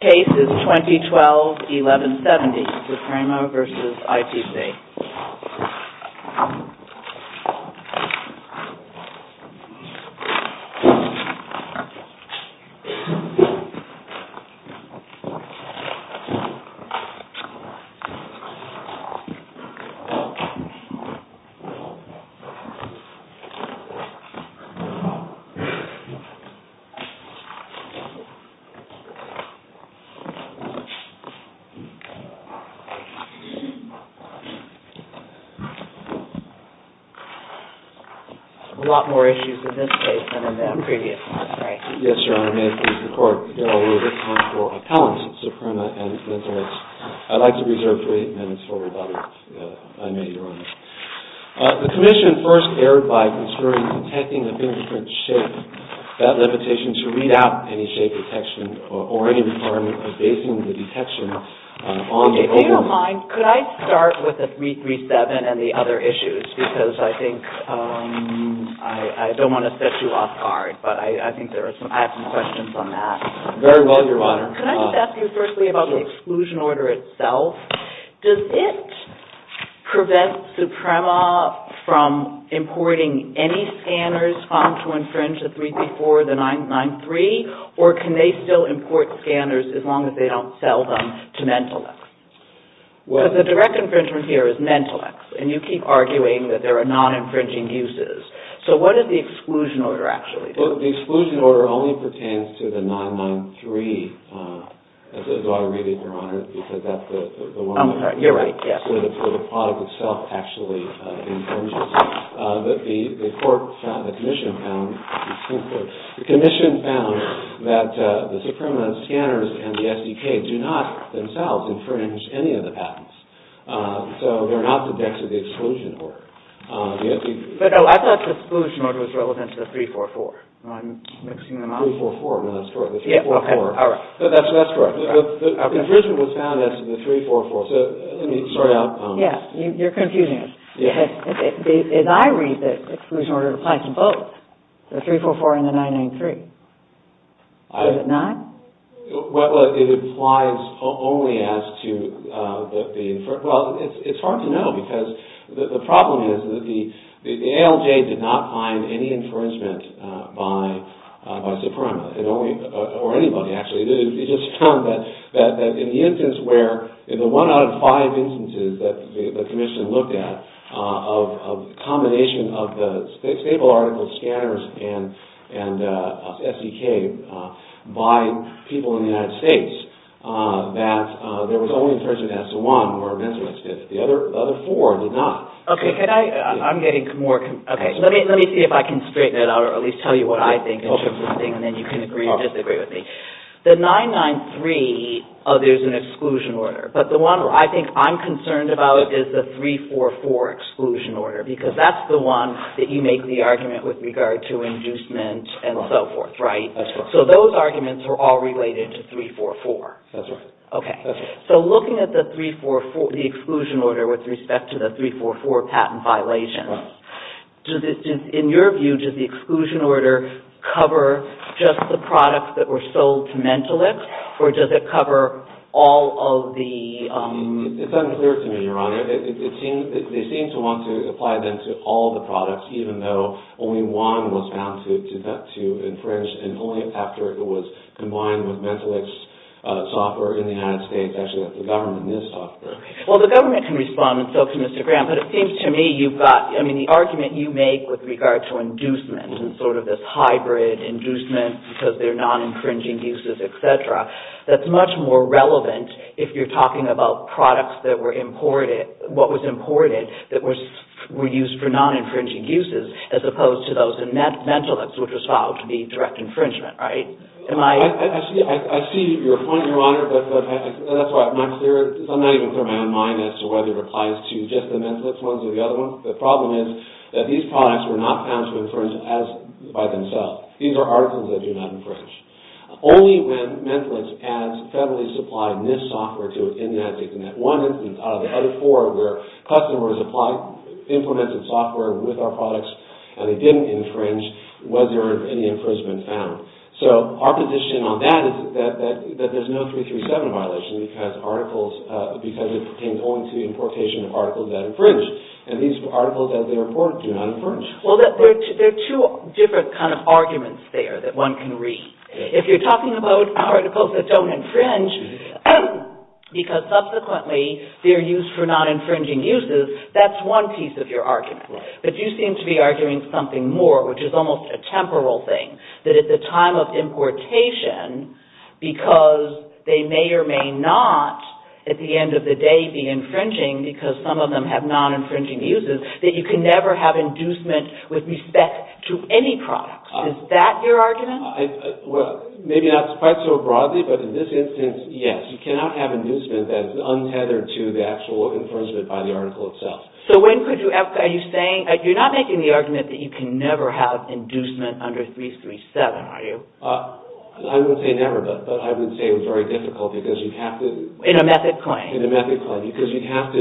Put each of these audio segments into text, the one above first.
Case is 2012-11-70 SUPREMA v. ITC A lot more issues in this case than in the previous one, right? Yes, Your Honor. May I please report? Your Honor, we're looking for appellants at SUPREMA and mental health. I'd like to reserve three minutes for rebuttal, if I may, Your Honor. The Commission first erred by considering detecting a fingerprint's shape. That limitation to read out any shape detection or inform abasing the detection on the open... If you don't mind, could I start with the 337 and the other issues? Because I think I don't want to set you off guard, but I think I have some questions on that. Very well, Your Honor. Could I just ask you firstly about the exclusion order itself? Does it prevent SUPREMA from importing any scanners found to infringe the 334 or the 993? Or can they still import scanners as long as they don't sell them to MentalX? Because the direct infringement here is MentalX, and you keep arguing that there are non-infringing uses. So what does the exclusion order actually do? The exclusion order only pertains to the 993, as is already, Your Honor, because that's the one... I'm sorry, you're right, yes. So the product itself actually infringes. But the Commission found that the SUPREMA scanners and the SDK do not themselves infringe any of the patents. So they're not the decks of the exclusion order. But, oh, I thought the exclusion order was relevant to the 344. I'm mixing them up. 344, no, that's correct, the 344. Okay, all right. That's correct. The infringement was found as to the 344. So, let me, sorry, I'll... Yes, you're confusing us. As I read this, the exclusion order applies to both, the 344 and the 993. Does it not? Well, it applies only as to the... Well, it's hard to know, because the problem is that the ALJ did not find any infringement by SUPREMA, or anybody, actually. It just found that in the instance where, in the one out of five instances that the Commission looked at, a combination of the stable article scanners and SDK by people in the United States, that there was only infringement as to one, or eventually as to the other four did not. Okay, can I... I'm getting more... Okay, let me see if I can straighten it out, or at least tell you what I think, and then you can agree or disagree with me. The 993, there's an exclusion order, but the one I think I'm concerned about is the 344 exclusion order, because that's the one that you make the argument with regard to inducement and so forth, right? That's correct. So, those arguments are all related to 344. That's right. Okay. So, looking at the 344, the exclusion order with respect to the 344 patent violation, in your view, does the exclusion order cover just the products that were sold to Mentolix, or does it cover all of the... It's unclear to me, Your Honor. They seem to want to apply them to all the products, even though only one was found to infringe, and only after it was combined with Mentolix software in the United States, actually, that the government is software. Well, the government can respond, and so can Mr. Graham, but it seems to me you've got... I mean, the argument you make with regard to inducement, and sort of this hybrid inducement because they're non-infringing uses, etc., that's much more relevant if you're talking about products that were imported, what was imported that were used for non-infringing uses, as opposed to those in Mentolix, which was found to be direct infringement, right? Am I... I see your point, Your Honor, but that's all right. I'm not clear... I'm not even clear in my own mind as to whether it applies to just the Mentolix ones or the other ones. The problem is that these products were not found to infringe by themselves. These are articles that do not infringe. Only when Mentolix adds federally supplied NIST software to it in the United States, and that one instance out of the other four where customers apply implemented software with our products, and they didn't infringe, was there any infringement found. So our position on that is that there's no 337 violation because articles... because it pertains only to the importation of articles that infringe. And these articles, as they report, do not infringe. Well, there are two different kind of arguments there that one can read. If you're talking about articles that don't infringe because subsequently they're used for non-infringing uses, that's one piece of your argument. But you seem to be arguing something more, which is almost a temporal thing, that at the time of importation, because they may or may not at the end of the day be infringing because some of them have non-infringing uses, that you can never have inducement with respect to any product. Is that your argument? Well, maybe not quite so broadly, but in this instance, yes. You cannot have inducement that is untethered to the actual infringement by the article itself. So are you saying... you're not making the argument that you can never have inducement under 337, are you? I wouldn't say never, but I would say it was very difficult because you'd have to... In a method claim. In a method claim, because you'd have to...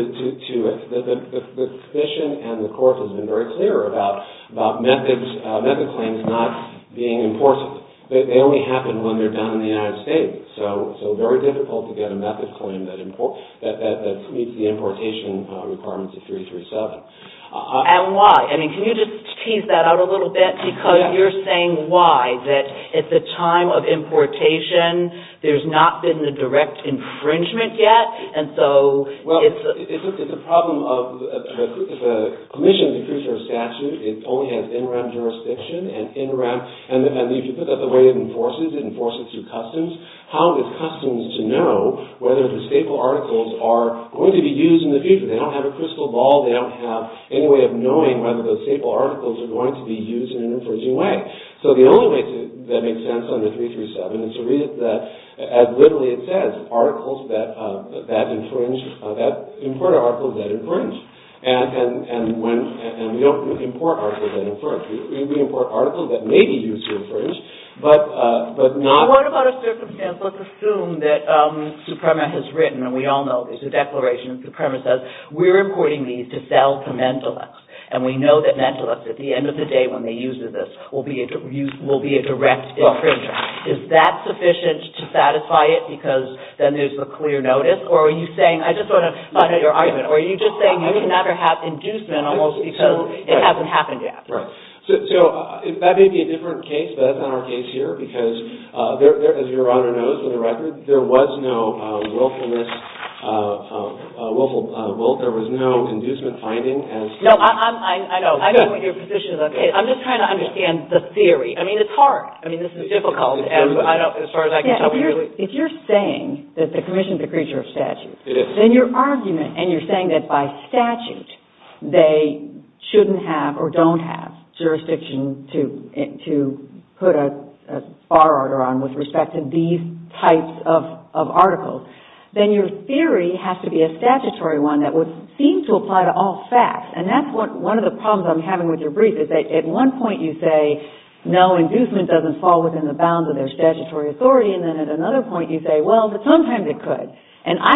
the Commission and the Court has been very clear about method claims not being important. They only happen when they're done in the United States. So very difficult to get a method claim that meets the importation requirements of 337. And why? I mean, can you just tease that out a little bit? Because you're saying why? That at the time of importation, there's not been a direct infringement yet, and so it's... Well, it's a problem of... if a Commission decrees or a statute, it only has interim jurisdiction and interim... And if you put that the way it enforces, it enforces through customs. How is customs to know whether the staple articles are going to be used in the future? They don't have a crystal ball. They don't have any way of knowing whether those staple articles are going to be used in an infringing way. So the only way that makes sense under 337 is to read that, as literally it says, articles that infringe... that import articles that infringe. And we don't import articles that infringe. We import articles that may be used to infringe, but not... What about a circumstance? Let's assume that Suprema has written, and we all know there's a declaration that Suprema says, we're importing these to sell to mentalists. And we know that mentalists, at the end of the day when they use this, will be a direct infringer. Is that sufficient to satisfy it because then there's a clear notice? Or are you saying... I just want to find out your argument. Are you just saying you can never have inducement almost because it hasn't happened yet? Right. So that may be a different case, but that's not our case here because, as Your Honor knows for the record, there was no willfulness... there was no inducement finding as... No, I know. I know what your position is. I'm just trying to understand the theory. I mean, it's hard. I mean, this is difficult. As far as I can tell, we really... If you're saying that the Commission is a creature of statute... It is. But then your argument, and you're saying that by statute they shouldn't have or don't have jurisdiction to put a bar order on with respect to these types of articles, then your theory has to be a statutory one that would seem to apply to all facts. And that's one of the problems I'm having with your brief is that at one point you say, no, inducement doesn't fall within the bounds of their statutory authority, and then at another point you say, well, but sometimes it could. And I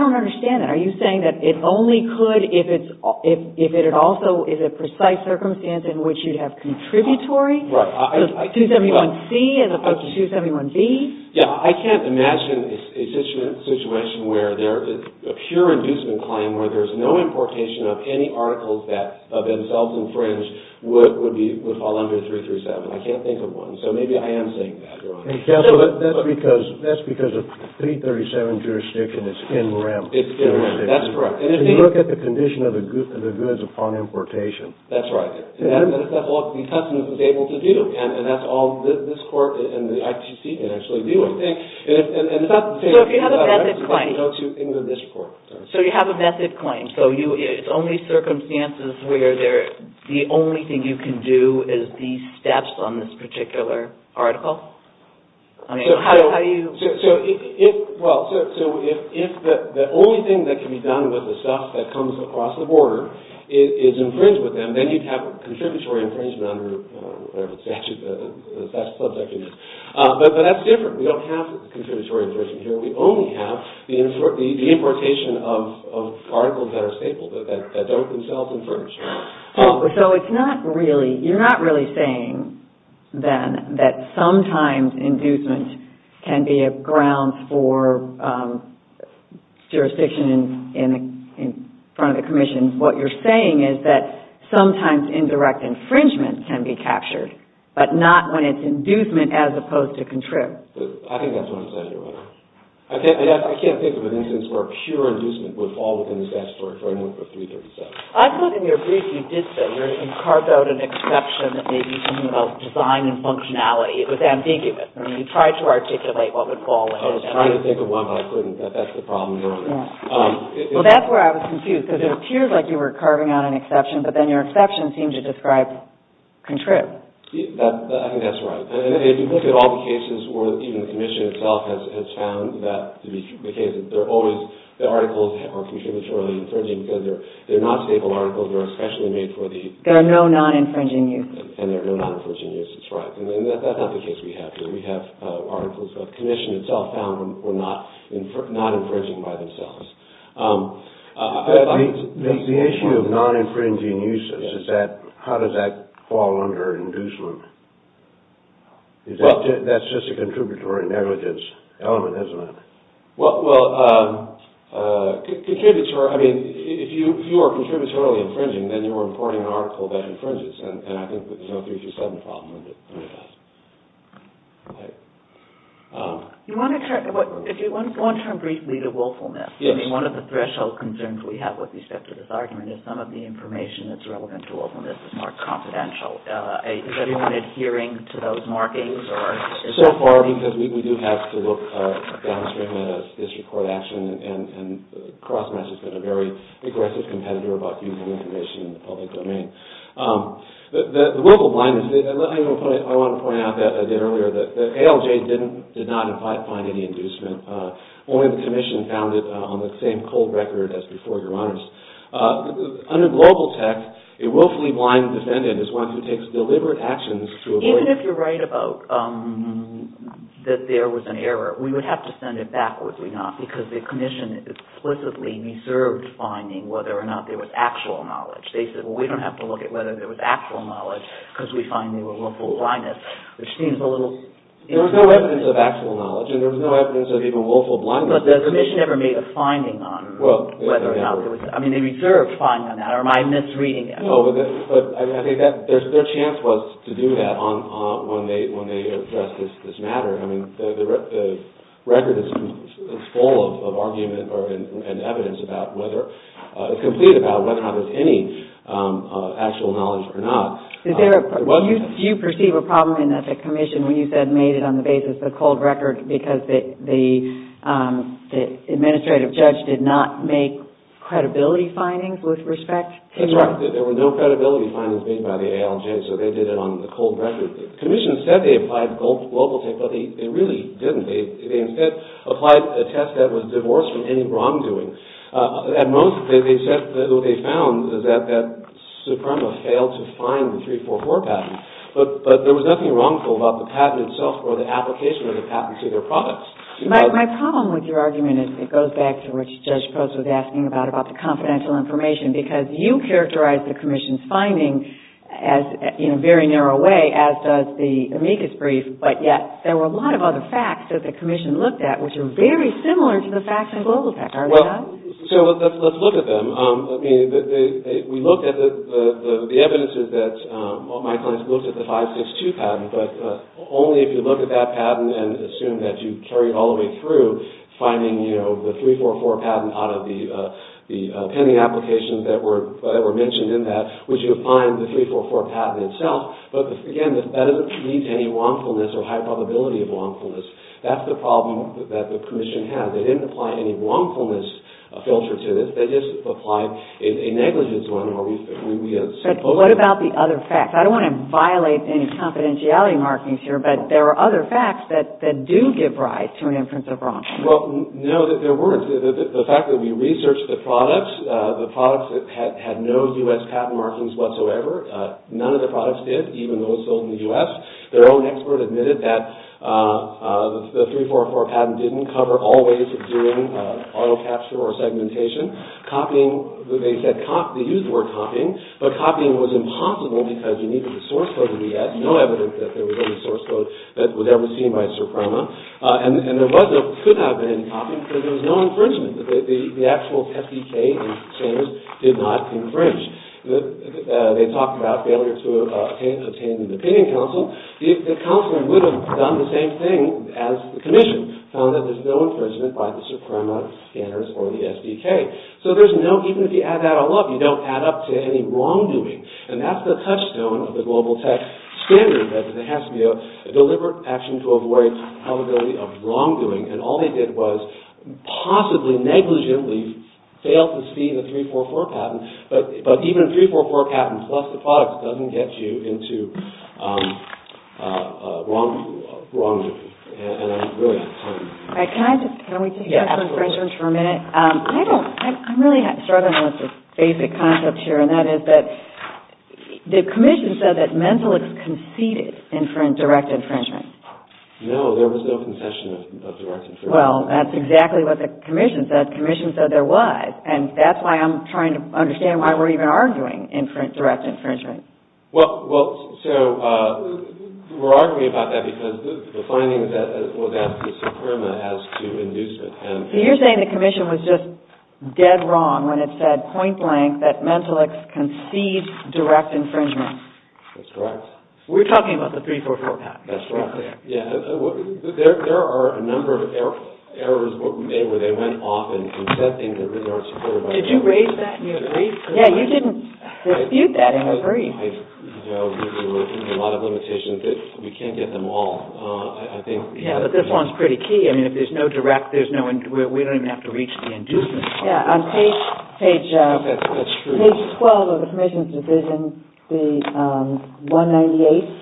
don't understand that. Are you saying that it only could if it also is a precise circumstance in which you'd have contributory? Right. 271C as opposed to 271B? Yeah, I can't imagine a situation where there... a pure inducement claim where there's no importation of any articles that of themselves infringed would fall under 337. I can't think of one. So maybe I am saying that, Your Honor. That's because of 337 jurisdiction is in rem. It's in rem, that's correct. And if you look at the condition of the goods upon importation. That's right. And that's what the testament was able to do. And that's all this court and the ITC can actually do. So if you have a method claim. So you have a method claim. So it's only circumstances where the only thing you can do is these steps on this particular article? I mean, how do you... Well, so if the only thing that can be done with the stuff that comes across the border is infringed with them, then you'd have a contributory infringement under the statute, the statute of subject. But that's different. We don't have the contributory infringement here. We only have the importation of articles that are stapled, that don't themselves infringe. So it's not really... You're not really saying then that sometimes inducement can be a ground for jurisdiction in front of the commission. What you're saying is that sometimes indirect infringement can be captured, but not when it's inducement as opposed to contrib. I think that's what I'm saying here. I can't think of an instance where pure inducement would fall within the statutory framework of 337. I thought in your brief you did say you carved out an exception that made you think about design and functionality. It was ambiguous. I mean, you tried to articulate what would fall within that. I was trying to think of one, but I couldn't. That's the problem. Well, that's where I was confused. Because it appeared like you were carving out an exception, but then your exception seemed to describe contrib. I think that's right. If you look at all the cases where even the commission itself has found that to be the case, the articles are contributorily infringing because they're not staple articles. They're especially made for the... There are no non-infringing uses. And there are no non-infringing uses. That's right. And that's not the case we have here. We have articles that the commission itself found were not infringing by themselves. The issue of non-infringing uses is that how does that fall under inducement? That's just a contributory negligence element, isn't it? Well, if you are contributorily infringing, then you're reporting an article that infringes. And I think the No. 327 problem would address that. You want to turn briefly to willfulness? Yes. I mean, one of the threshold concerns we have with respect to this argument is some of the information that's relevant to willfulness is more confidential. Is everyone adhering to those markings? So far, because we do have to look downstream at a district court action, and CrossMatch has been a very aggressive competitor about using information in the public domain. The willful blindness, I want to point out that I did earlier, that ALJ did not find any inducement. Only the commission found it on the same cold record as before, Your Honors. Under global tech, a willfully blind defendant is one who takes deliberate actions to avoid... Even if you're right about that there was an error, we would have to send it back, would we not? Because the commission explicitly reserved finding whether or not there was actual knowledge. They said, well, we don't have to look at whether there was actual knowledge, because we find they were willful blindness, which seems a little... There was no evidence of actual knowledge, and there was no evidence of even willful blindness. But the commission never made a finding on whether or not there was... I mean, they reserved finding on that, or am I misreading it? No, but I think their chance was to do that when they addressed this matter. I mean, the record is full of argument and evidence about whether... It's complete about whether or not there's any actual knowledge or not. Do you perceive a problem in that the commission, when you said made it on the basis of the cold record, because the administrative judge did not make credibility findings with respect to... That's right. There were no credibility findings made by the ALJ, so they did it on the cold record. The commission said they applied global tech, but they really didn't. They instead applied a test that was divorced from any wrongdoing. At most, they said that what they found is that Suprema failed to find the 344 patent. But there was nothing wrongful about the patent itself or the application of the patent to their products. My problem with your argument, it goes back to what Judge Post was asking about, about the confidential information, because you characterized the commission's finding in a very narrow way, as does the amicus brief, but yet there were a lot of other facts that the commission looked at which are very similar to the facts on global tech. Are they not? Let's look at them. The evidence is that my clients looked at the 562 patent, but only if you look at that patent and assume that you carried all the way through finding the 344 patent out of the pending applications that were mentioned in that, which you find the 344 patent itself. But again, that doesn't lead to any wrongfulness or high probability of wrongfulness. That's the problem that the commission had. They didn't apply any wrongfulness filter to this. They just applied a negligence one, or we assume both of them. But what about the other facts? I don't want to violate any confidentiality markings here, but there are other facts that do give rise to an inference of wrongdoing. Well, no, there weren't. The fact that we researched the products, the products that had no U.S. patent markings whatsoever, none of the products did, even those sold in the U.S. Their own expert admitted that the 344 patent didn't cover all ways of doing auto capture or segmentation. Copying, they said, they used the word copying, but copying was impossible because you needed the source code to do that. No evidence that there was any source code that was ever seen by Soprano. And there could have been copying, but there was no infringement. The actual SDK and standards did not infringe. They talked about failure to obtain an opinion council. The council would have done the same thing as the commission, found that there's no infringement by the Soprano standards or the SDK. So there's no, even if you add that all up, you don't add up to any wrongdoing. And that's the touchstone of the global tech standard, that there has to be a deliberate action to avoid the probability of wrongdoing. And all they did was possibly negligently fail to see the 344 patent. But even a 344 patent, plus the products, doesn't get you into wrongdoing. And I'm really excited about that. Can we just have some questions for a minute? I'm really struggling with this basic concept here, and that is that the commission said that Mentelix conceded direct infringement. No, there was no concession of direct infringement. Well, that's exactly what the commission said. The commission said there was. And that's why I'm trying to understand why we're even arguing direct infringement. Well, so we're arguing about that because the findings that was asked to Soprano has to induce it. So you're saying the commission was just dead wrong when it said point blank that Mentelix conceded direct infringement. That's correct. We're talking about the 344 patent. That's right. There are a number of errors where they went off and said things that really aren't supported by the commission. Did you raise that in your brief? Yeah, you didn't dispute that in your brief. There were a lot of limitations. We can't get them all. Yeah, but this one's pretty key. I mean, if there's no direct, we don't even have to reach the inducement part. Yeah, on page 12 of the commission's decision, the 198th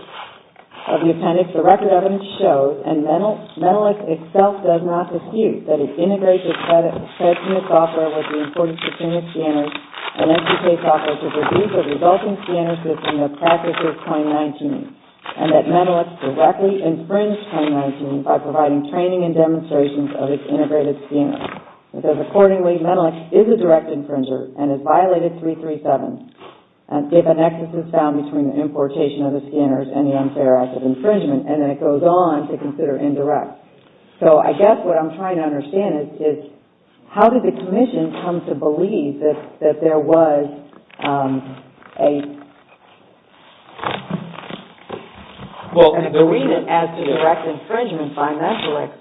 of the appendix, the record evidence shows, and Mentelix itself does not dispute, that it integrates its credit unit software with the importance of senior scanners and educate software to reduce the resulting scanner system in the practice of 2019, and that Mentelix directly infringed 2019 by providing training and demonstrations of its integrated scanners. It says, accordingly, Mentelix is a direct infringer and has violated 337, given excesses found between the importation of the scanners and the unfair act of infringement, and then it goes on to consider indirect. So I guess what I'm trying to understand is, how did the commission come to believe that there was a agreement as to direct infringement by Mentelix,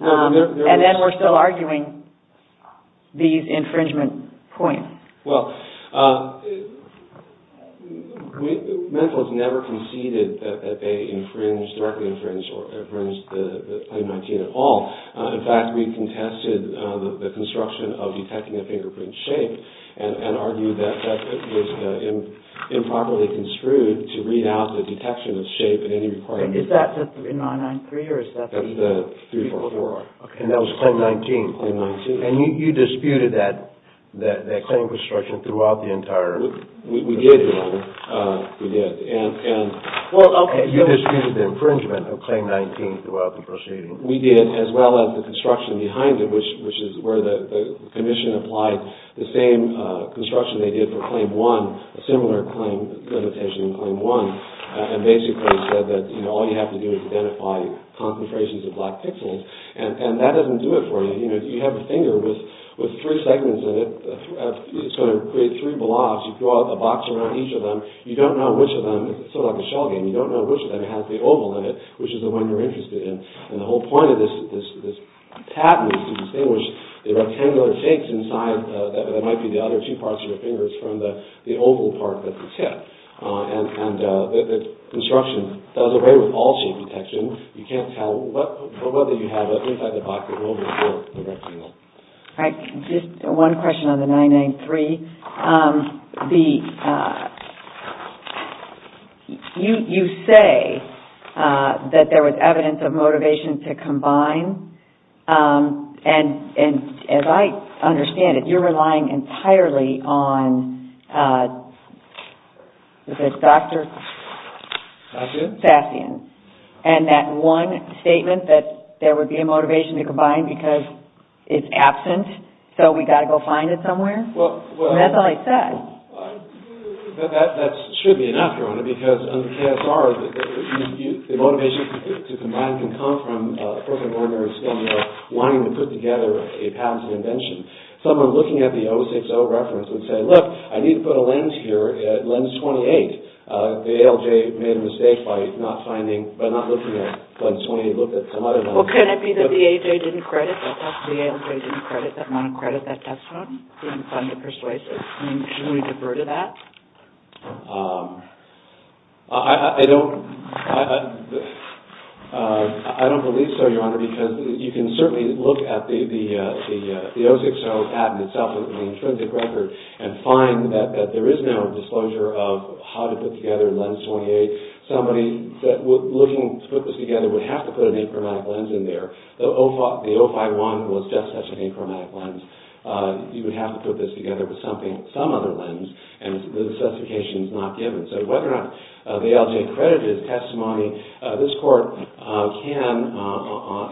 and then we're still arguing these infringement points? Well, Mentelix never conceded that they directly infringed 2019 at all. In fact, we contested the construction of detecting a fingerprint shape and argued that it was improperly construed to read out the detection of shape in any requirement. Is that the 3993, or is that the 3404? That's the 3404. And that was claim 19? Claim 19. And you disputed that claim construction throughout the entire process? We did. And you disputed the infringement of claim 19 throughout the proceeding? We did, as well as the construction behind it, which is where the commission applied the same construction they did for claim 1, a similar limitation in claim 1, and basically said that all you have to do is identify concentrations of black pixels, and that doesn't do it for you. You have a finger with three segments in it. It's going to create three blobs. You draw a box around each of them. You don't know which of them, sort of like a shell game, you don't know which of them has the oval in it, which is the one you're interested in. And the whole point of this patent is to distinguish the rectangular shapes inside, that might be the other two parts of your fingers, from the oval part at the tip. And the construction does away with all shape detection. You can't tell whether you have it inside the box, the oval, or the rectangle. All right. Just one question on the 993. You say that there was evidence of motivation to combine, and as I understand it, you're relying entirely on, what is it, Dr. Sassion, and that one statement that there would be a motivation to combine because it's absent, so we've got to go find it somewhere? That's all I said. That should be an afterword, because on the KSR, the motivation to combine can come from a person wanting to put together a patent and invention. Someone looking at the 060 reference would say, look, I need to put a lens here, lens 28. The ALJ made a mistake by not looking at lens 28, looked at some other lens. Well, could it be that the ALJ didn't credit that monocredit that that's on, didn't find the persuasive? I mean, should we defer to that? I don't believe so, Your Honor, because you can certainly look at the 060 patent itself, and find that there is no disclosure of how to put together lens 28. Somebody looking to put this together would have to put an achromatic lens in there. The 051 was just such an achromatic lens. You would have to put this together with some other lens, and the specification is not given. So whether or not the ALJ credited testimony, this court can,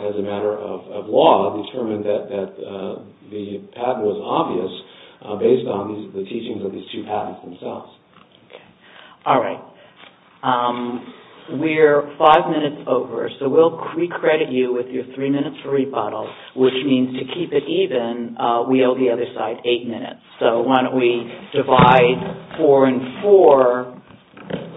as a matter of law, determine that the patent was obvious based on the teachings of these two patents themselves. All right. We're five minutes over, so we'll recredit you with your three minutes for rebuttal, which means to keep it even, we owe the other side eight minutes. So why don't we divide four and four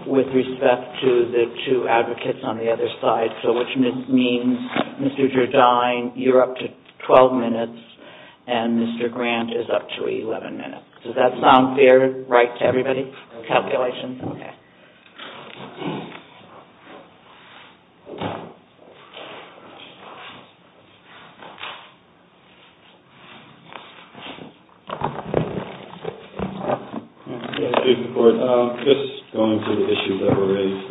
with respect to the two advocates on the other side, which means Mr. Gerdine, you're up to 12 minutes, and Mr. Grant is up to 11 minutes. Does that sound fair, right to everybody? Calculations? Okay. Just going through the issues that were raised.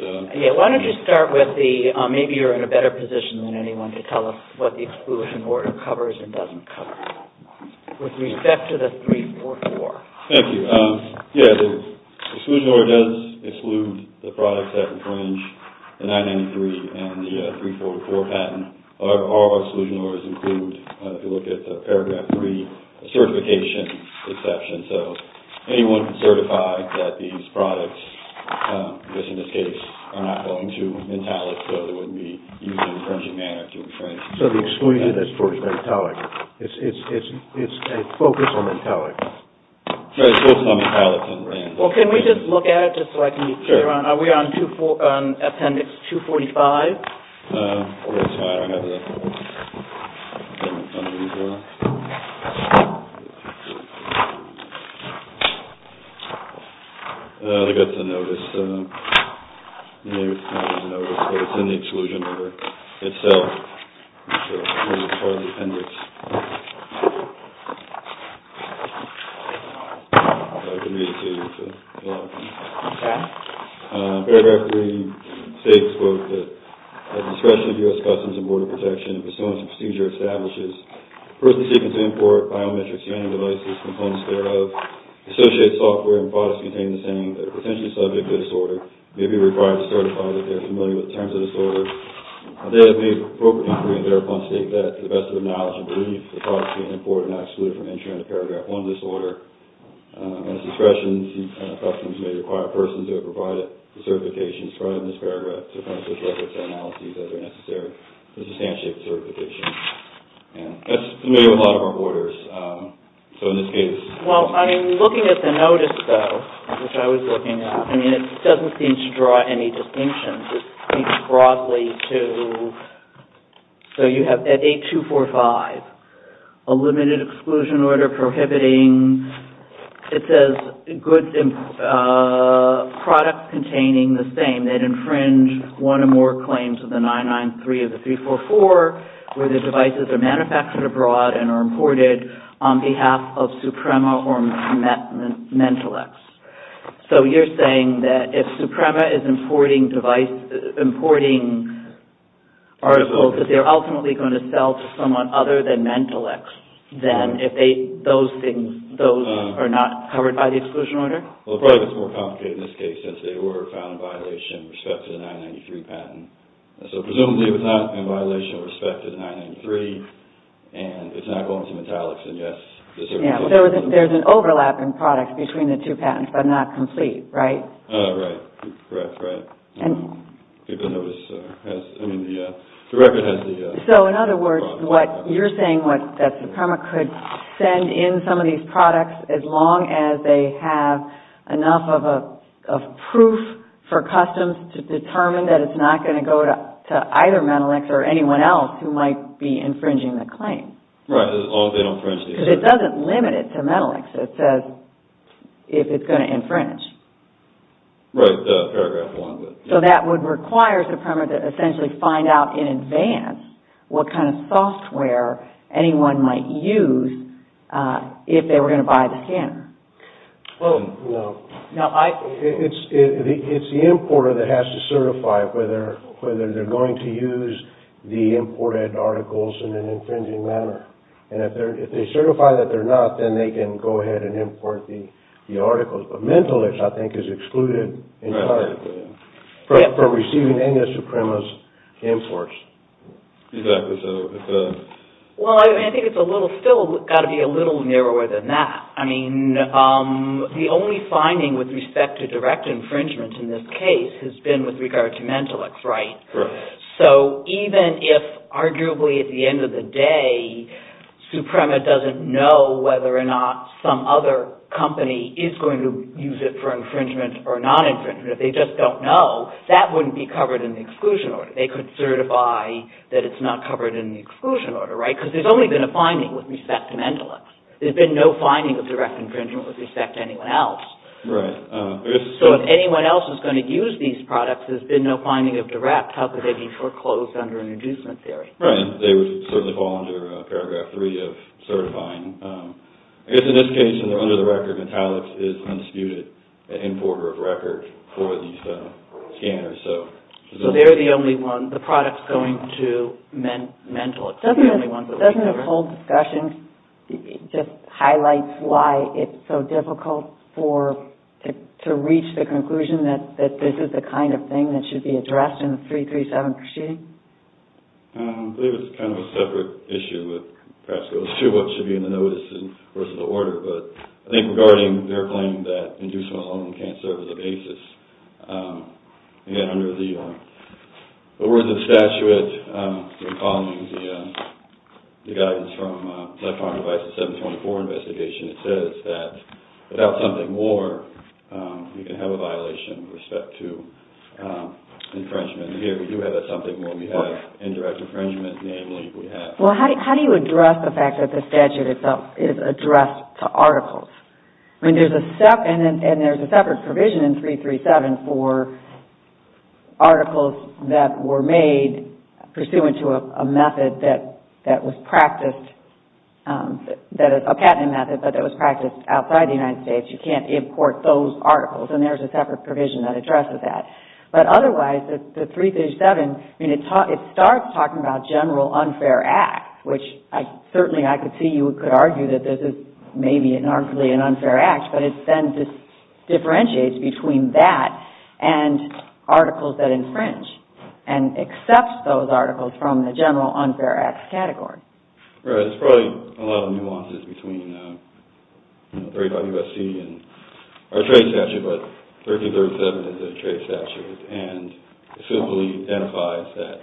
Why don't you start with the—maybe you're in a better position than anyone to tell us what the exclusion order covers and doesn't cover, with respect to the 344. Thank you. Yeah, the exclusion order does exclude the products that infringe the 993 and the 344 patent. All our exclusion orders include, if you look at the paragraph 3, a certification exception. So anyone can certify that these products, just in this case, are not going to intallic, so they wouldn't be used in an infringing manner to infringe. So the exclusion is for intallic. It's a focus on intallic. Right, it's focused on intallic and random. Well, can we just look at it, just so I can be clear? Sure. Are we on appendix 245? That's fine. I have the appendix on here as well. I think that's a notice. Maybe it's not a notice, but it's in the exclusion order itself. So it's part of the appendix. I can read it to you if you want. Okay. Paragraph 3 states, quote, that at discretion of U.S. Customs and Border Protection, pursuance of procedure establishes person seeking to import biometric scanning devices, components thereof, associated software and products containing the same that are potentially subject to the disorder may be required to certify that they are familiar with the terms of the disorder. They have made appropriate inquiry and thereupon state that, to the best of their knowledge and belief, the products being imported are not excluded from entry under Paragraph 1 of this order. At discretion of U.S. Customs, you may require a person to have provided the certification described in this paragraph to accomplish records and analyses that are necessary to substantiate the certification. That's familiar with a lot of our borders. So in this case... Well, I'm looking at the notice, though, which I was looking at. I mean, it doesn't seem to draw any distinctions. It speaks broadly to... So you have at 8245, a limited exclusion order prohibiting, it says, goods and products containing the same that infringe one or more claims of the 993 of the 344 where the devices are manufactured abroad and are imported on behalf of Suprema or Mentelex. So you're saying that if Suprema is importing devices, importing articles that they're ultimately going to sell to someone other than Mentelex, then those things are not covered by the exclusion order? Well, it probably gets more complicated in this case since they were found in violation with respect to the 993 patent. So presumably it was not in violation with respect to the 993 and it's not going to Mentelex, and yes, the certification... Yeah, there's an overlap in products between the two patents but not complete, right? Right, correct, right. Because the record has the... So in other words, what you're saying, that Suprema could send in some of these products as long as they have enough of proof for customs to determine that it's not going to go to either Mentelex or anyone else who might be infringing the claim. Right, as long as they don't infringe it. Because it doesn't limit it to Mentelex. It says if it's going to infringe. Right, paragraph one. So that would require Suprema to essentially find out in advance what kind of software anyone might use if they were going to buy the scanner. Well, no. It's the importer that has to certify whether they're going to use the imported articles in an infringing manner. And if they certify that they're not, then they can go ahead and import the articles. But Mentelex, I think, is excluded entirely from receiving any of Suprema's imports. Exactly. Well, I think it's still got to be a little narrower than that. I mean, the only finding with respect to direct infringement in this case has been with regard to Mentelex, right? So even if, arguably, at the end of the day, Suprema doesn't know whether or not some other company is going to use it for infringement or non-infringement, if they just don't know, that wouldn't be covered in the exclusion order. They could certify that it's not covered in the exclusion order, right? Because there's only been a finding with respect to Mentelex. There's been no finding of direct infringement with respect to anyone else. Right. So if anyone else is going to use these products, there's been no finding of direct. How could they be foreclosed under an inducement theory? Right. They would certainly fall under Paragraph 3 of certifying. I guess in this case, under the record, Mentelex is undisputed an importer of record for these scanners. So they're the only one. The product's going to Mentelex. Doesn't the whole discussion just highlight why it's so difficult to reach the conclusion that this is the kind of thing that should be addressed in the 337 proceeding? I believe it's kind of a separate issue. Perhaps it goes to what should be in the notice versus the order. But I think regarding their claim that inducement alone can't serve as a basis, again, under the words of the statute, following the guidance from the 724 investigation, it says that without something more, you can have a violation with respect to infringement. Here, we do have a something more. We have indirect infringement. Namely, we have- And there's a separate provision in 337 for articles that were made pursuant to a method that was practiced, a patenting method, but that was practiced outside the United States. You can't import those articles. And there's a separate provision that addresses that. But otherwise, the 337, it starts talking about general unfair acts, which certainly I could see you could argue that this is maybe and arguably an unfair act, but it then differentiates between that and articles that infringe and accepts those articles from the general unfair acts category. Right. There's probably a lot of nuances between 35 U.S.C. and our trade statute, but 337 is a trade statute. It simply identifies that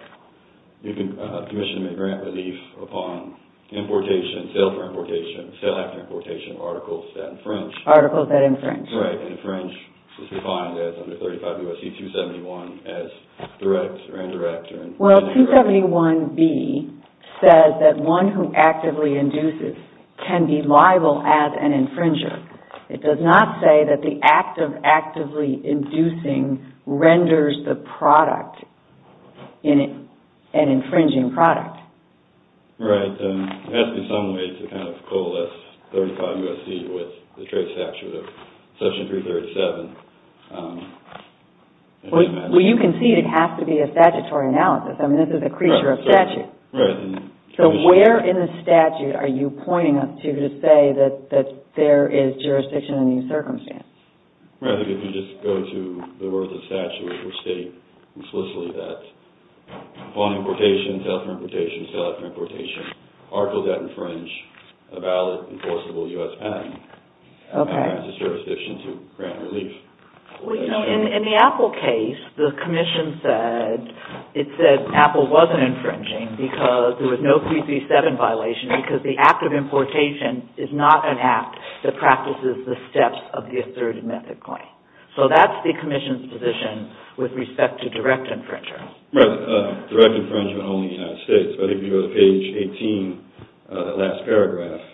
you can commission a grant relief upon importation, sale for importation, sale after importation of articles that infringe. Articles that infringe. Right. And infringe is defined as under 35 U.S.C. 271 as direct or indirect. Well, 271B says that one who actively induces can be liable as an infringer. It does not say that the act of actively inducing renders the product an infringing product. Right. It has to be some way to kind of coalesce 35 U.S.C. with the trade statute of Section 337. Well, you can see it has to be a statutory analysis. I mean, this is a creature of statute. Right. So where in the statute are you pointing us to to say that there is jurisdiction in these circumstances? Right. If you just go to the words of the statute, it will state explicitly that upon importation, sale for importation, sale after importation, articles that infringe a valid enforceable U.S. penalty. Okay. That grants a jurisdiction to grant relief. Well, you know, in the Apple case, the commission said it said Apple wasn't infringing because there was no 337 violation because the act of importation is not an act that practices the steps of the asserted method claim. So that's the commission's position with respect to direct infringement. Right. Direct infringement only in the United States. But if you go to page 18, the last paragraph,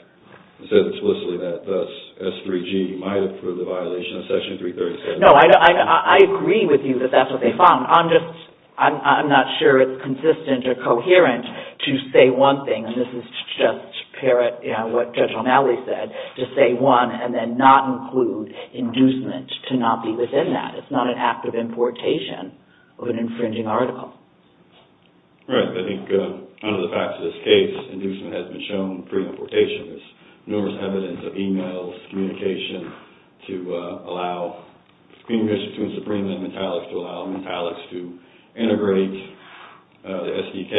it says explicitly that thus S3G might have proved a violation of Section 337. No, I agree with you that that's what they found. I'm just – I'm not sure it's consistent or coherent to say one thing, and this is just parrot, you know, what Judge O'Malley said, to say one and then not include inducement to not be within that. It's not an act of importation of an infringing article. Right. I think under the facts of this case, inducement has been shown pre-importation. There's numerous evidence of e-mails, communication, to allow – the Supreme Court issued a decree to allow Mentalics to integrate the SDK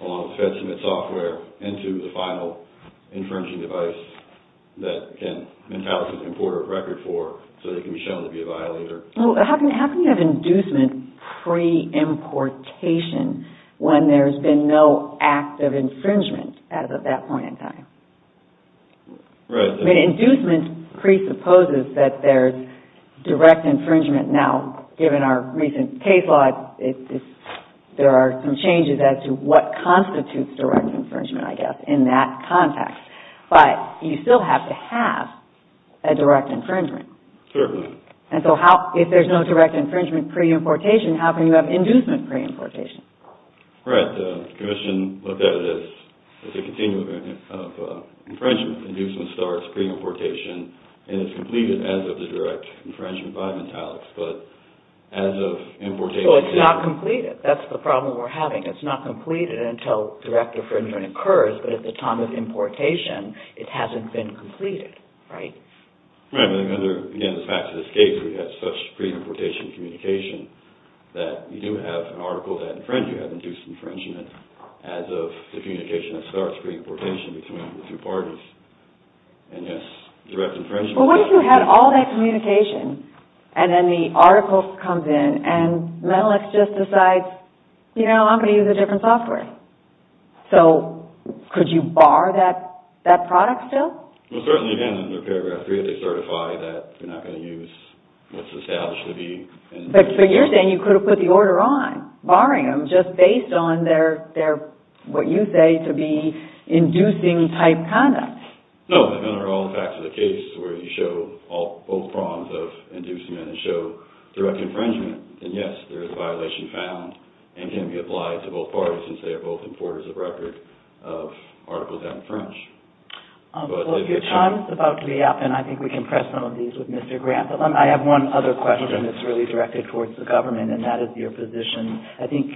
along with the FedSubmit software into the final infringing device that, again, Mentalics can import a record for so they can be shown to be a violator. Well, how can you have inducement pre-importation when there's been no act of infringement as of that point in time? Right. I mean, inducement presupposes that there's direct infringement. Now, given our recent case law, there are some changes as to what constitutes direct infringement, I guess, in that context. But you still have to have a direct infringement. Sure. And so if there's no direct infringement pre-importation, how can you have inducement pre-importation? Right. Commission looked at it as a continuum of infringement. Inducement starts pre-importation and is completed as of the direct infringement by Mentalics. But as of importation – So it's not completed. That's the problem we're having. It's not completed until direct infringement occurs, but at the time of importation, it hasn't been completed, right? Right. Again, the fact of this case, we had such pre-importation communication that you do have an article that infringes. You have induced infringement as of the communication that starts pre-importation between the two parties. And yes, direct infringement – But what if you had all that communication and then the article comes in and Mentalics just decides, you know, I'm going to use a different software? So could you bar that product still? Well, certainly, again, under Paragraph 3, they certify that you're not going to use what's established to be – But you're saying you could have put the order on, barring them, just based on their – what you say to be inducing-type conduct. No, under all the facts of the case where you show both prongs of inducement and show direct infringement. And yes, there is a violation found and can be applied to both parties since they are both importers of record of articles that infringe. Well, if your time is about to be up, then I think we can press some of these with Mr. Grant. But I have one other question that's really directed towards the government, and that is your position. I think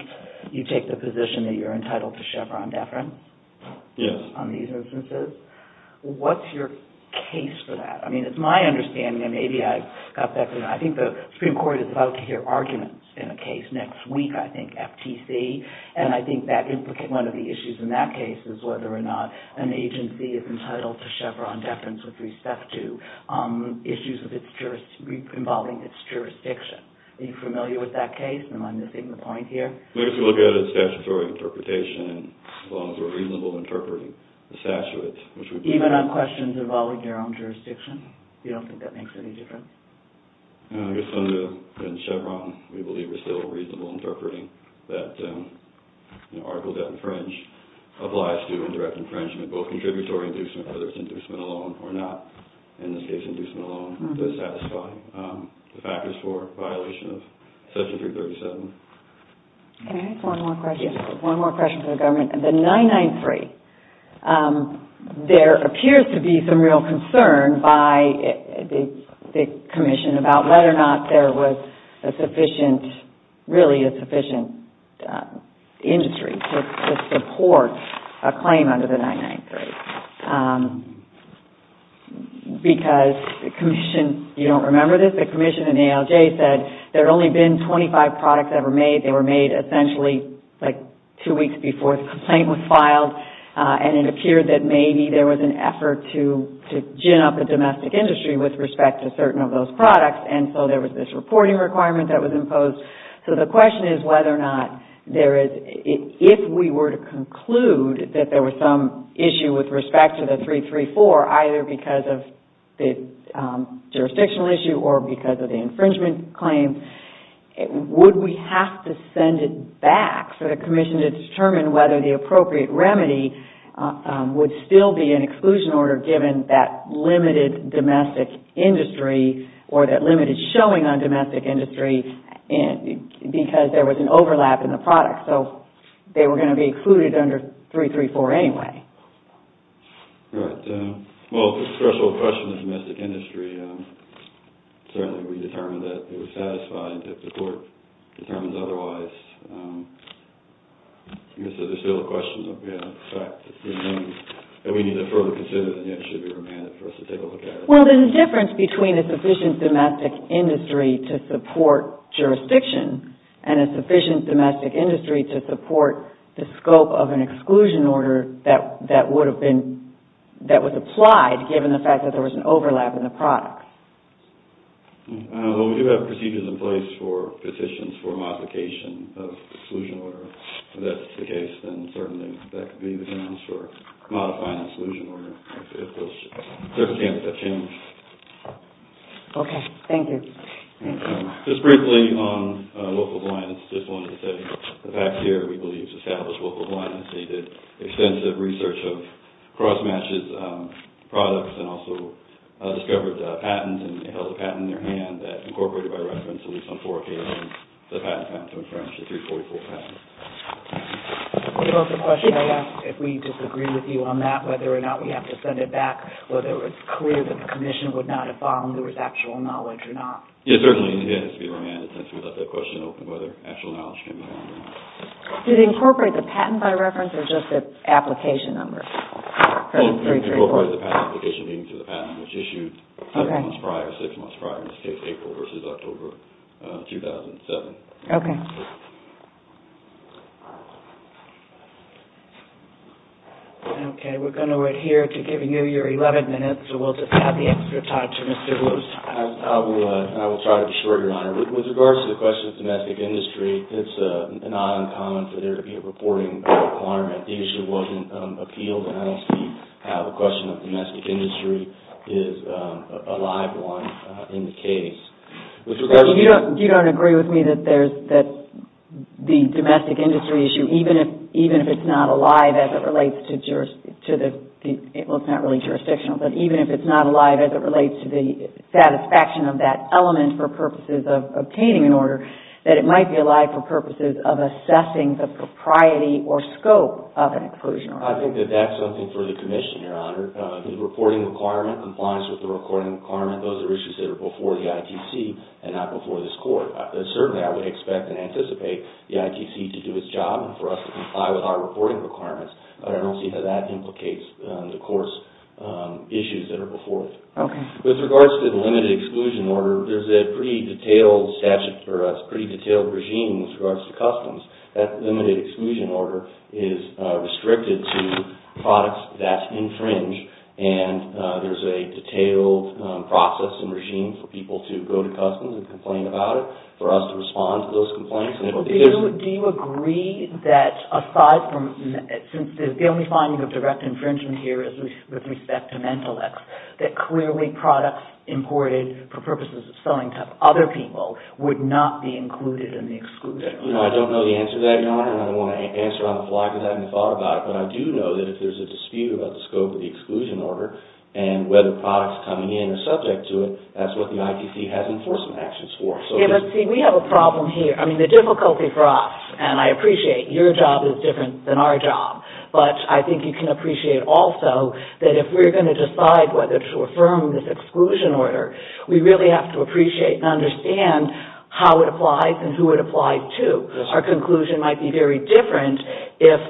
you take the position that you're entitled to Chevron deference on these instances. Yes. What's your case for that? I mean, it's my understanding, and maybe I've got that – I think the Supreme Court is about to hear arguments in a case next week, I think, FTC. And I think that – one of the issues in that case is whether or not an agency is entitled to Chevron deference with respect to issues of its – involving its jurisdiction. Are you familiar with that case? Am I missing the point here? Well, if you look at a statutory interpretation, as long as we're reasonable interpreting the statutes, which would be – Even on questions involving their own jurisdiction? You don't think that makes any difference? I guess under Chevron, we believe we're still reasonable interpreting that article death and infringement applies to indirect infringement, both contributory inducement, whether it's inducement alone or not. In this case, inducement alone does satisfy the factors for violation of Section 337. Can I ask one more question? Yes. One more question to the government. The 993. There appears to be some real concern by the Commission about whether or not there was a sufficient – really a sufficient industry to support a claim under the 993. Because the Commission – you don't remember this? The Commission and ALJ said there had only been 25 products ever made. They were made essentially like two weeks before the complaint was filed, and it appeared that maybe there was an effort to gin up a domestic industry with respect to certain of those products, and so there was this reporting requirement that was imposed. So the question is whether or not there is – because of the infringement claim, would we have to send it back for the Commission to determine whether the appropriate remedy would still be an exclusion order given that limited domestic industry or that limited showing on domestic industry because there was an overlap in the product. So they were going to be included under 334 anyway. Right. Well, for the threshold question of domestic industry, certainly we determined that it was satisfied. If the court determines otherwise, I guess there's still a question of, you know, the fact that we need to further consider it and it should be remanded for us to take a look at it. Well, then the difference between a sufficient domestic industry to support jurisdiction and a sufficient domestic industry to support the scope of an exclusion order that would have been – that was applied given the fact that there was an overlap in the product. Well, we do have procedures in place for petitions for modification of exclusion order. If that's the case, then certainly that could be the case for modifying exclusion order. Okay. Thank you. Just briefly on local compliance, just wanted to say the facts here. We believe established local compliance. They did extensive research of cross-matches, products, and also discovered patents and held a patent in their hand that incorporated by reference, at least on four occasions, the patent in French, the 344 patent. It was a question I asked if we disagreed with you on that, whether or not we have to send it back, whether it was clear that the Commission would not have found there was actual knowledge or not. Yes, certainly it has to be remanded since we left that question open, whether actual knowledge came back. Did they incorporate the patent by reference or just the application number? Well, they incorporated the patent application, meaning the patent was issued six months prior, in this case April versus October 2007. Okay. Okay. We're going to adhere to giving you your 11 minutes, so we'll just have the extra talk to Mr. Lewis. I will try to be short, Your Honor. With regards to the question of domestic industry, it's not uncommon for there to be a reporting requirement. The issue wasn't appealed, and I don't see how the question of domestic industry is a live one in the case. You don't agree with me that the domestic industry issue, even if it's not alive as it relates to jurisdiction, well, it's not really jurisdictional, but even if it's not alive as it relates to the satisfaction of that element for purposes of obtaining an order, that it might be alive for purposes of assessing the propriety or scope of an exclusion order. I think that that's something for the Commission, Your Honor. The reporting requirement, compliance with the reporting requirement, those are issues that are before the ITC and not before this court. Certainly, I would expect and anticipate the ITC to do its job for us to comply with our reporting requirements, but I don't see how that implicates the court's issues that are before it. Okay. With regards to the limited exclusion order, there's a pretty detailed statute for us, pretty detailed regime with regards to customs. That limited exclusion order is restricted to products that infringe, and there's a detailed process and regime for people to go to customs and complain about it, for us to respond to those complaints. Do you agree that aside from, since the only finding of direct infringement here is with respect to Mentelex, that clearly products imported for purposes of selling to other people would not be included in the exclusion order? I don't know the answer to that, Your Honor, and I don't want to answer on the fly because I haven't thought about it, but I do know that if there's a dispute about the scope of the exclusion order and whether products coming in are subject to it, that's what the ITC has enforcement actions for. Let's see, we have a problem here. I mean, the difficulty for us, and I appreciate your job is different than our job, but I think you can appreciate also that if we're going to decide whether to affirm this exclusion order, we really have to appreciate and understand how it applies and who it applies to. Our conclusion might be very different if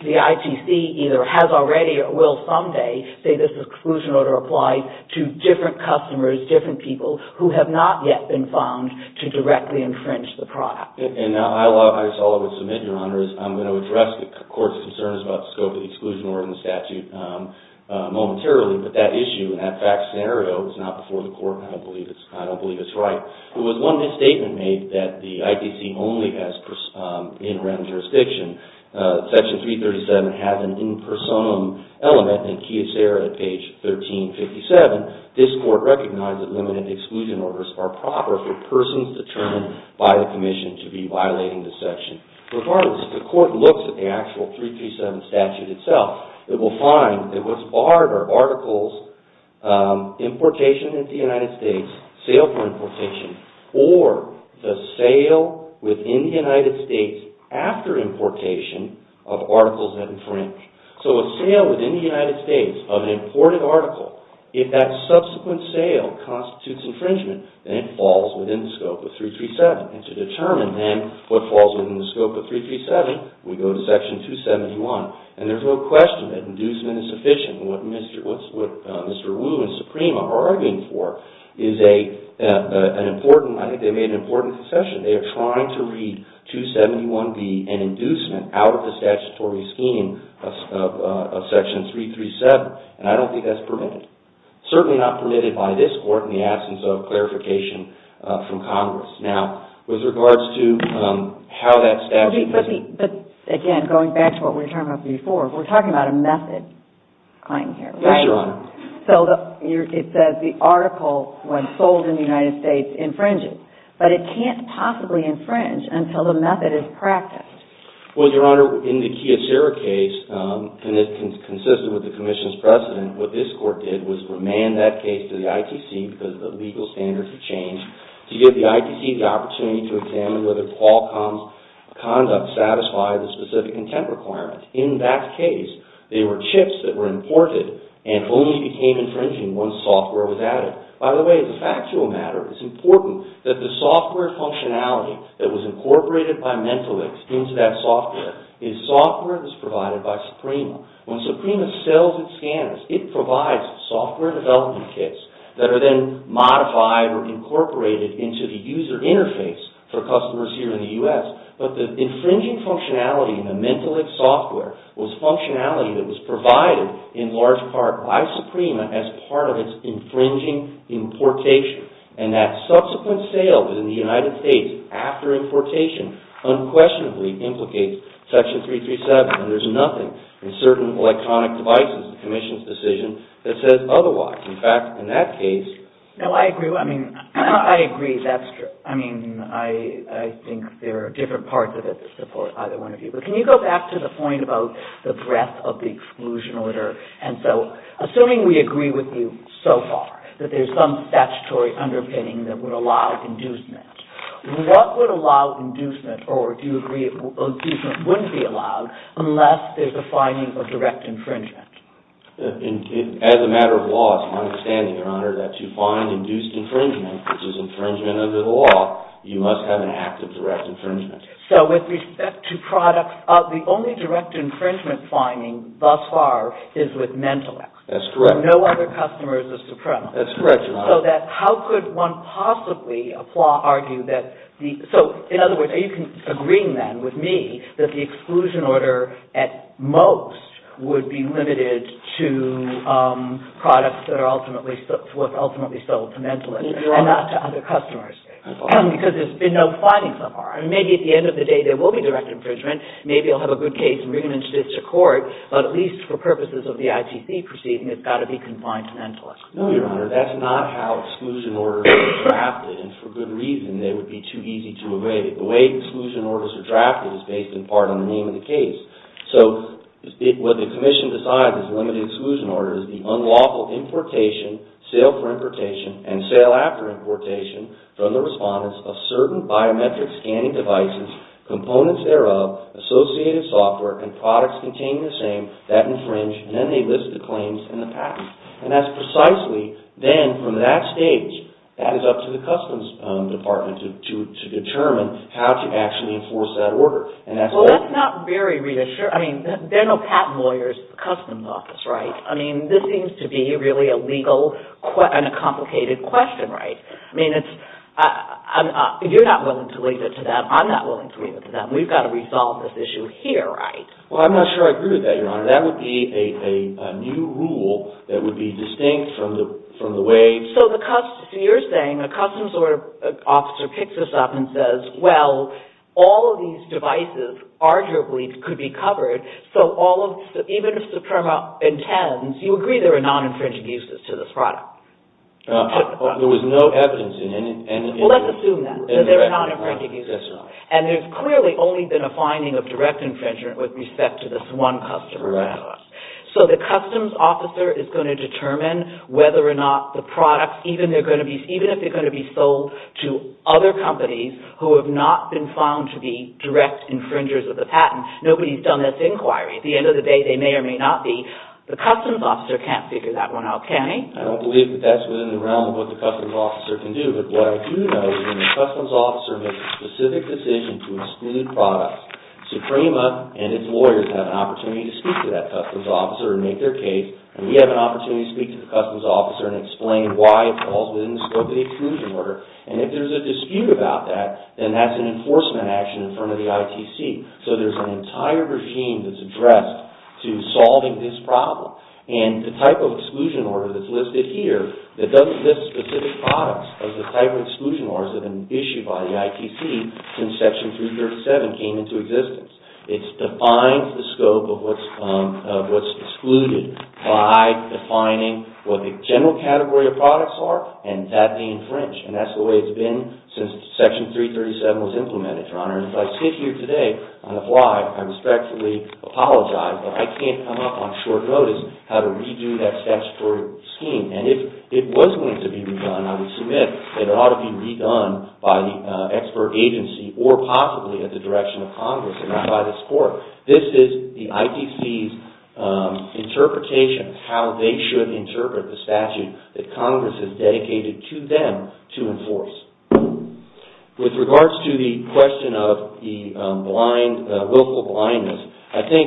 the ITC either has already or will someday say this exclusion order applies to different customers, different people, who have not yet been found to directly infringe the product. And I just thought I would submit, Your Honor, is I'm going to address the Court's concerns about the scope of the exclusion order in the statute momentarily, but that issue and that fact scenario is not before the Court, and I don't believe it's right. There was one misstatement made that the ITC only has in rem jurisdiction. Section 337 has an in personam element in the key of sera at page 1357. This Court recognizes that limited exclusion orders are proper for persons determined by the Commission to be violating the section. Regardless, if the Court looks at the actual 337 statute itself, it will find that what's barred are articles importation into the United States, sale for importation, or the sale within the United States after importation of articles that infringe. So a sale within the United States of an imported article, if that subsequent sale constitutes infringement, then it falls within the scope of 337. And to determine then what falls within the scope of 337, we go to section 271. And there's no question that inducement is sufficient. What Mr. Wu and Suprema are arguing for is an important, I think they made an important concession. They are trying to read 271B and inducement out of the statutory scheme of section 337, and I don't think that's permitted. Certainly not permitted by this Court in the absence of clarification from Congress. Now, with regards to how that statute... But again, going back to what we were talking about before, we're talking about a method claim here, right? Yes, Your Honor. So it says the article when sold in the United States infringes, but it can't possibly infringe until the method is practiced. Well, Your Honor, in the Kiyosera case, and it's consistent with the Commission's precedent, what this Court did was remand that case to the ITC because the legal standards had changed to give the ITC the opportunity to examine whether Qualcomm's conduct satisfied the specific intent requirement. In that case, they were chips that were imported and only became infringing once software was added. By the way, as a factual matter, it's important that the software functionality that was incorporated by Mentalix into that software is software that's provided by Suprema. When Suprema sells its scanners, it provides software development kits that are then modified or incorporated into the user interface for customers here in the U.S. But the infringing functionality in the Mentalix software was functionality that was provided in large part by Suprema as part of its infringing importation. And that subsequent sale in the United States after importation unquestionably implicates Section 337. There's nothing in certain electronic devices in the Commission's decision that says otherwise. In fact, in that case... No, I agree. I mean, I agree. That's true. I mean, I think there are different parts of it that support either one of you. But can you go back to the point about the breadth of the exclusion order? And so, assuming we agree with you so far that there's some statutory underpinning that would allow inducement, what would allow inducement or do you agree that inducement wouldn't be allowed unless there's a finding of direct infringement? As a matter of law, it's my understanding, Your Honor, that to find induced infringement, which is infringement under the law, you must have an act of direct infringement. So with respect to products, the only direct infringement finding thus far is with Mentalix. That's correct. So no other customer is a Suprema. That's correct, Your Honor. So how could one possibly argue that... So, in other words, are you agreeing then with me that the exclusion order, at most, would be limited to products that are ultimately sold to Mentalix and not to other customers? Because there's been no findings so far. And maybe at the end of the day, there will be direct infringement. Maybe I'll have a good case and bring it in to court. But at least for purposes of the ITC proceeding, it's got to be confined to Mentalix. No, Your Honor. That's not how exclusion orders are drafted. And for good reason. They would be too easy to evade. The way exclusion orders are drafted is based in part on the name of the case. So what the Commission decides as a limited exclusion order is the unlawful importation, sale for importation, and sale after importation from the respondents of certain biometric scanning devices, components thereof, associated software, and products containing the same that infringe, and then they list the claims in the patent. And that's precisely, then, from that stage, that is up to the Customs Department to determine how to actually enforce that order. Well, that's not very reassuring. I mean, there are no patent lawyers in the Customs Office, right? I mean, this seems to be really a legal and a complicated question, right? I mean, you're not willing to leave it to them. I'm not willing to leave it to them. We've got to resolve this issue here, right? Well, I'm not sure I agree with that, Your Honor. That would be a new rule that would be distinct from the way... So you're saying the Customs Officer picks this up and says, well, all of these devices arguably could be covered, so even if the firm intends, you agree there are non-infringing uses to this product? There was no evidence in any... Well, let's assume that, that there are non-infringing uses. And there's clearly only been a finding of direct infringement with respect to this one customer. So the Customs Officer is going to determine whether or not the product, even if they're going to be sold to other companies who have not been found to be direct infringers of the patent. Nobody's done this inquiry. At the end of the day, they may or may not be. The Customs Officer can't figure that one out, can he? I don't believe that that's within the realm of what the Customs Officer can do. But what I do know is when the Customs Officer makes a specific decision to exclude products, Suprema and its lawyers have an opportunity to speak to that Customs Officer and make their case, and we have an opportunity to speak to the Customs Officer and explain why it falls within the scope of the exclusion order. And if there's a dispute about that, then that's an enforcement action in front of the ITC. So there's an entire regime that's addressed to solving this problem. And the type of exclusion order that's listed here, that doesn't list specific products as a type of exclusion order has been issued by the ITC since Section 337 came into existence. It defines the scope of what's excluded by defining what the general category of products are and that they infringe. And that's the way it's been since Section 337 was implemented, Your Honor. And if I sit here today on the fly, I respectfully apologize, but I can't come up on short notice how to redo that statutory scheme. And if it was going to be redone, I would submit that it ought to be redone by the expert agency or possibly at the direction of Congress and not by this Court. This is the ITC's interpretation of how they should interpret the statute that Congress has dedicated to them to enforce. With regards to the question of the willful blindness, I think,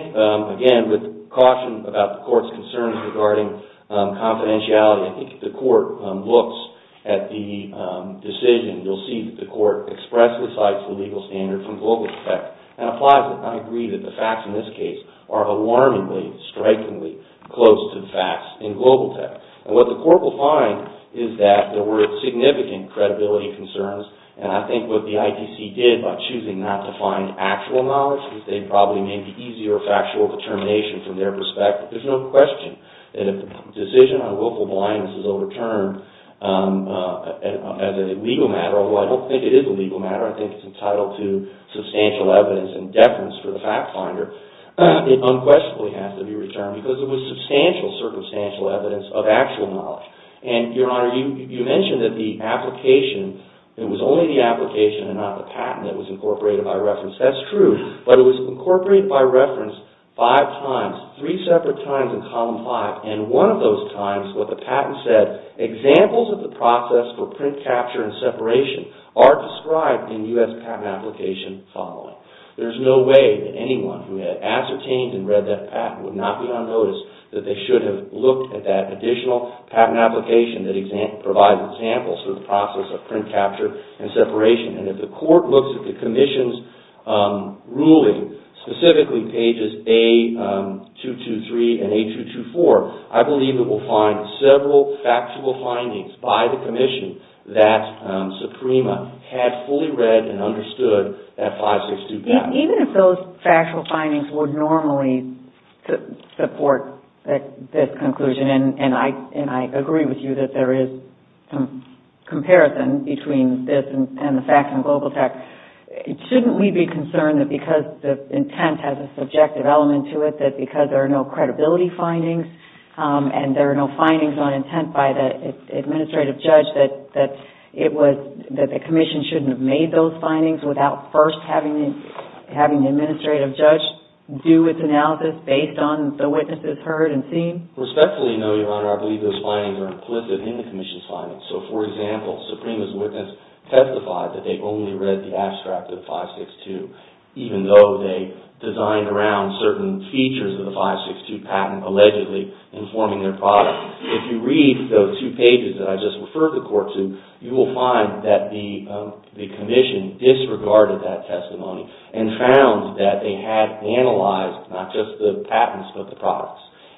again, with caution about the Court's concerns regarding confidentiality, I think if the Court looks at the decision, you'll see that the Court expresses the legal standard from global tech and applies it. I agree that the facts in this case are alarmingly, strikingly close to the facts in global tech. And what the Court will find is that there were significant credibility concerns. And I think what the ITC did by choosing not to find actual knowledge, they probably made the easier factual determination from their perspective. There's no question that if the decision on willful blindness is overturned as a legal matter, although I don't think it is a legal matter, I think it's entitled to substantial evidence and deference for the fact finder, it unquestionably has to be returned because it was substantial, circumstantial evidence of actual knowledge. And, Your Honor, you mentioned that the application, it was only the application and not the patent that was incorporated by reference. That's true, but it was incorporated by reference five times, three separate times in Column 5. And one of those times, what the patent said, examples of the process for print capture and separation are described in U.S. patent application following. There's no way that anyone who had ascertained and read that patent would not be unnoticed that they should have looked at that additional patent application that provides examples of the process of print capture and separation. And if the Court looks at the Commission's ruling, specifically pages A223 and A224, I believe it will find several factual findings by the Commission that Suprema had fully read and understood that 562 patent. Even if those factual findings would normally support this conclusion, and I agree with you that there is some comparison between this and the fact in Global Tech, shouldn't we be concerned that because the intent has a subjective element to it, that because there are no credibility findings and there are no findings on intent by the administrative judge, that the Commission shouldn't have made those findings without first having the administrative judge do its analysis based on the witnesses heard and seen? Respectfully, Your Honor, I believe those findings are implicit in the Commission's findings. So, for example, Suprema's witness testified that they only read the abstract of 562, even though they designed around certain features of the 562 patent, allegedly informing their product. If you read those two pages that I just referred the Court to, you will find that the Commission disregarded that testimony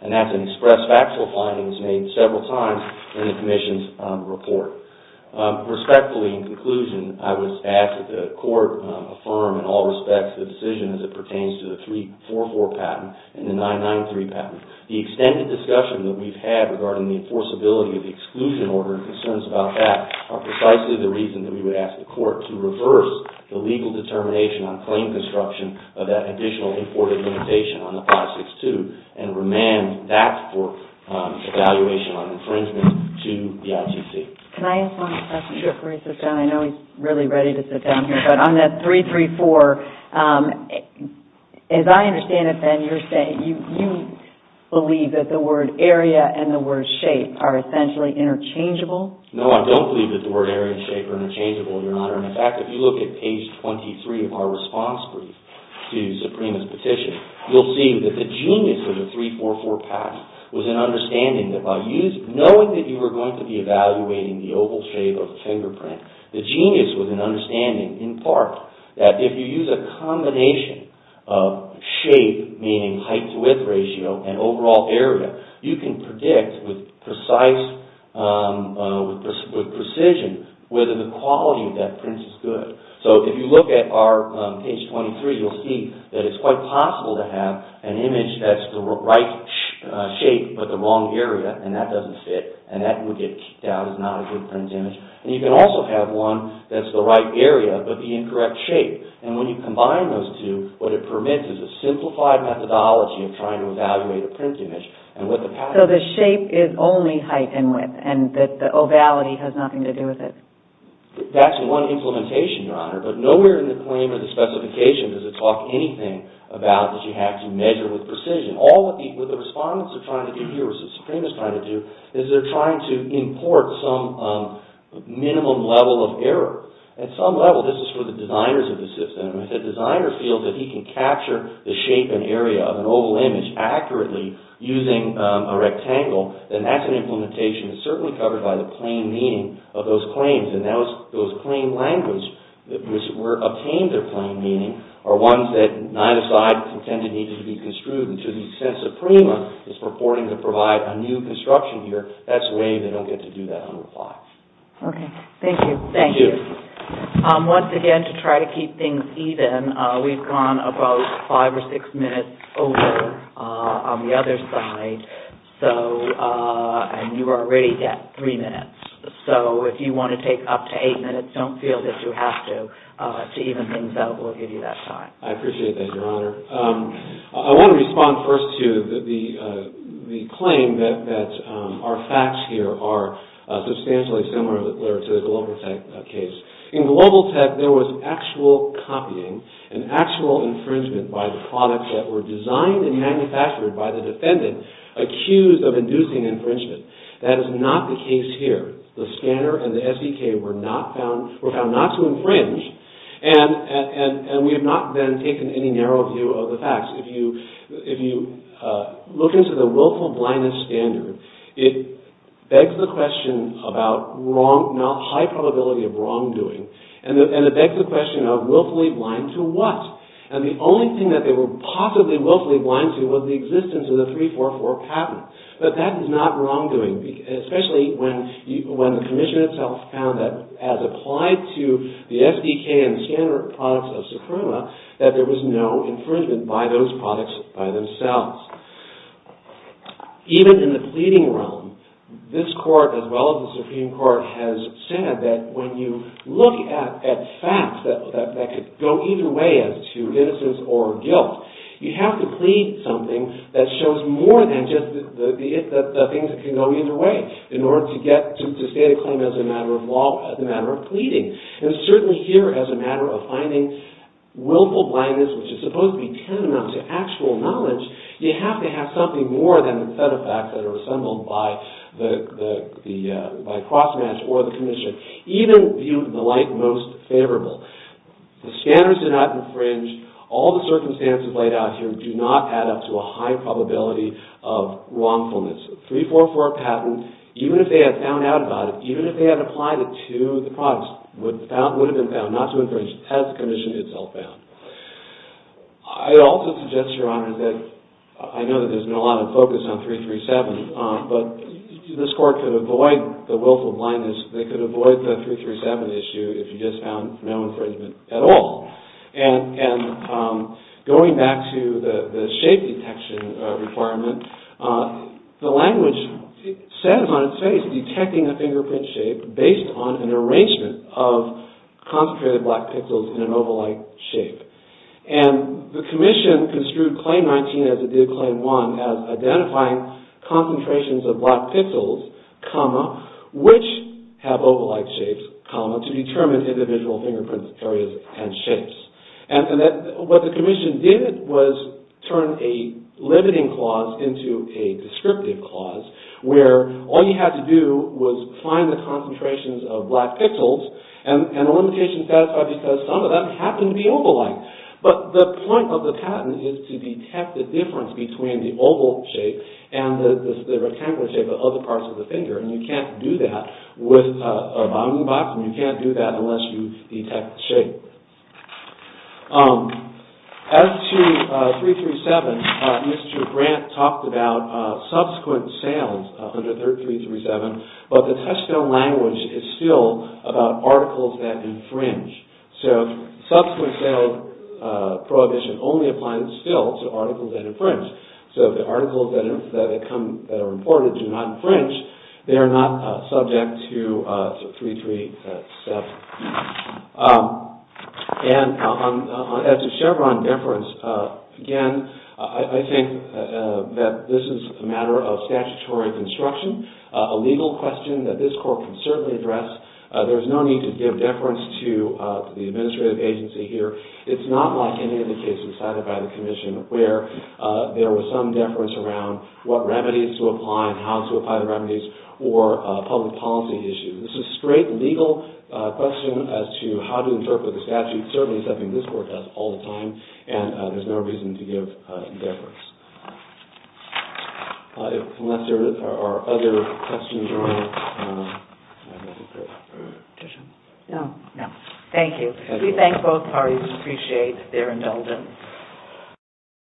And that's an express factual finding that's made several times in the Commission's report. Respectfully, in conclusion, I would ask that the Court affirm in all respects the decision as it pertains to the 344 patent and the 993 patent. The extended discussion that we've had regarding the enforceability of the exclusion order and concerns about that are precisely the reason that we would ask the Court to reverse the legal determination on claim construction of that additional imported limitation on the 562 and remand that for evaluation on infringement to the ICC. Can I ask one question before he sits down? I know he's really ready to sit down here. But on that 334, as I understand it, then, you're saying you believe that the word area and the word shape are essentially interchangeable? No, I don't believe that the word area and shape are interchangeable, Your Honor. In fact, if you look at page 23 of our response brief to Suprema's petition, you'll see that the genius of the 344 patent was an understanding that by knowing that you were going to be evaluating the oval shape of the fingerprint, the genius was an understanding, in part, that if you use a combination of shape, meaning height to width ratio, and overall area, you can predict with precision whether the quality of that print is good. So if you look at page 23, you'll see that it's quite possible to have an image that's the right shape but the wrong area, and that doesn't fit, and that would get kicked out as not a good print image. And you can also have one that's the right area but the incorrect shape. And when you combine those two, what it permits is a simplified methodology of trying to evaluate a print image. So the shape is only height and width, and the ovality has nothing to do with it? That's one implementation, Your Honor. But nowhere in the claim or the specification does it talk anything about that you have to measure with precision. All that the respondents are trying to do here, what Suprema's trying to do, is they're trying to import some minimum level of error. At some level, this is for the designers of the system, and if the designer feels that he can capture the shape and area of an oval image accurately using a rectangle, then that's an implementation. That's an implementation. It's certainly covered by the plain meaning of those claims, and those plain languages which obtain their plain meaning are ones that neither side intended needed to be construed until the sense that Prima is purporting to provide a new construction here. That's the way they don't get to do that on the plot. Okay. Thank you. Thank you. Once again, to try to keep things even, we've gone about five or six minutes over on the other side. And you already get three minutes. So, if you want to take up to eight minutes, don't feel that you have to. To even things out, we'll give you that time. I appreciate that, Your Honor. I want to respond first to the claim that our facts here are substantially similar to the Global Tech case. In Global Tech, there was actual copying, an actual infringement by the product that were designed and manufactured by the defendant accused of inducing infringement. That is not the case here. The scanner and the SDK were found not to infringe, and we have not then taken any narrow view of the facts. If you look into the willful blindness standard, it begs the question about high probability of wrongdoing, and it begs the question of willfully blind to what? And the only thing that they were possibly willfully blind to was the existence of the 344 patent. But that is not wrongdoing, especially when the Commission itself found that, as applied to the SDK and scanner products of Socroma, that there was no infringement by those products by themselves. Even in the pleading realm, this Court, as well as the Supreme Court, has said that when you look at facts that could go either way as to innocence or guilt, you have to plead something that shows more than just the things that can go either way in order to state a claim as a matter of law, as a matter of pleading. And certainly here, as a matter of finding willful blindness, which is supposed to be tantamount to actual knowledge, you have to have something more than the set of facts that are assembled by CrossMatch or the Commission, even viewed in the light most favorable. The scanners did not infringe. All the circumstances laid out here do not add up to a high probability of wrongfulness. The 344 patent, even if they had found out about it, even if they had applied it to the products, would have been found not to infringe as the Commission itself found. I also suggest, Your Honor, that I know that there's been a lot of focus on 337, but this Court could avoid the willful blindness, they could avoid the 337 issue if you just found no infringement at all. And going back to the shape detection requirement, the language says on its face detecting a fingerprint shape based on an arrangement of concentrated black pixels in an oval-like shape. And the Commission construed Claim 19 as it did Claim 1 as identifying concentrations of black pixels, which have oval-like shapes, to determine individual fingerprint areas and shapes. And what the Commission did was turn a limiting clause into a descriptive clause where all you had to do was find the concentrations of black pixels and a limitation satisfied because some of them happened to be oval-like. But the point of the patent is to detect the difference between the oval shape and the rectangular shape of other parts of the finger. And you can't do that with a bounding box and you can't do that unless you detect the shape. As to 337, Mr. Grant talked about subsequent sales under 337, but the Touchstone language is still about articles that infringe. So, subsequent sales prohibition only applies still to articles that infringe. So, the articles that are reported do not infringe. They are not subject to 337. And as to Chevron deference, again, I think that this is a matter of statutory construction, a legal question that this Court can certainly address. There's no need to give deference to the administrative agency here. It's not like any of the cases cited by the Commission where there was some deference around what remedies to apply and how to apply the remedies or public policy issues. This is a straight legal question as to how to interpret the statute, certainly something this Court does all the time, and there's no reason to give deference. Unless there are other questions or... Thank you. We thank both parties and appreciate their indulgence. Thank you.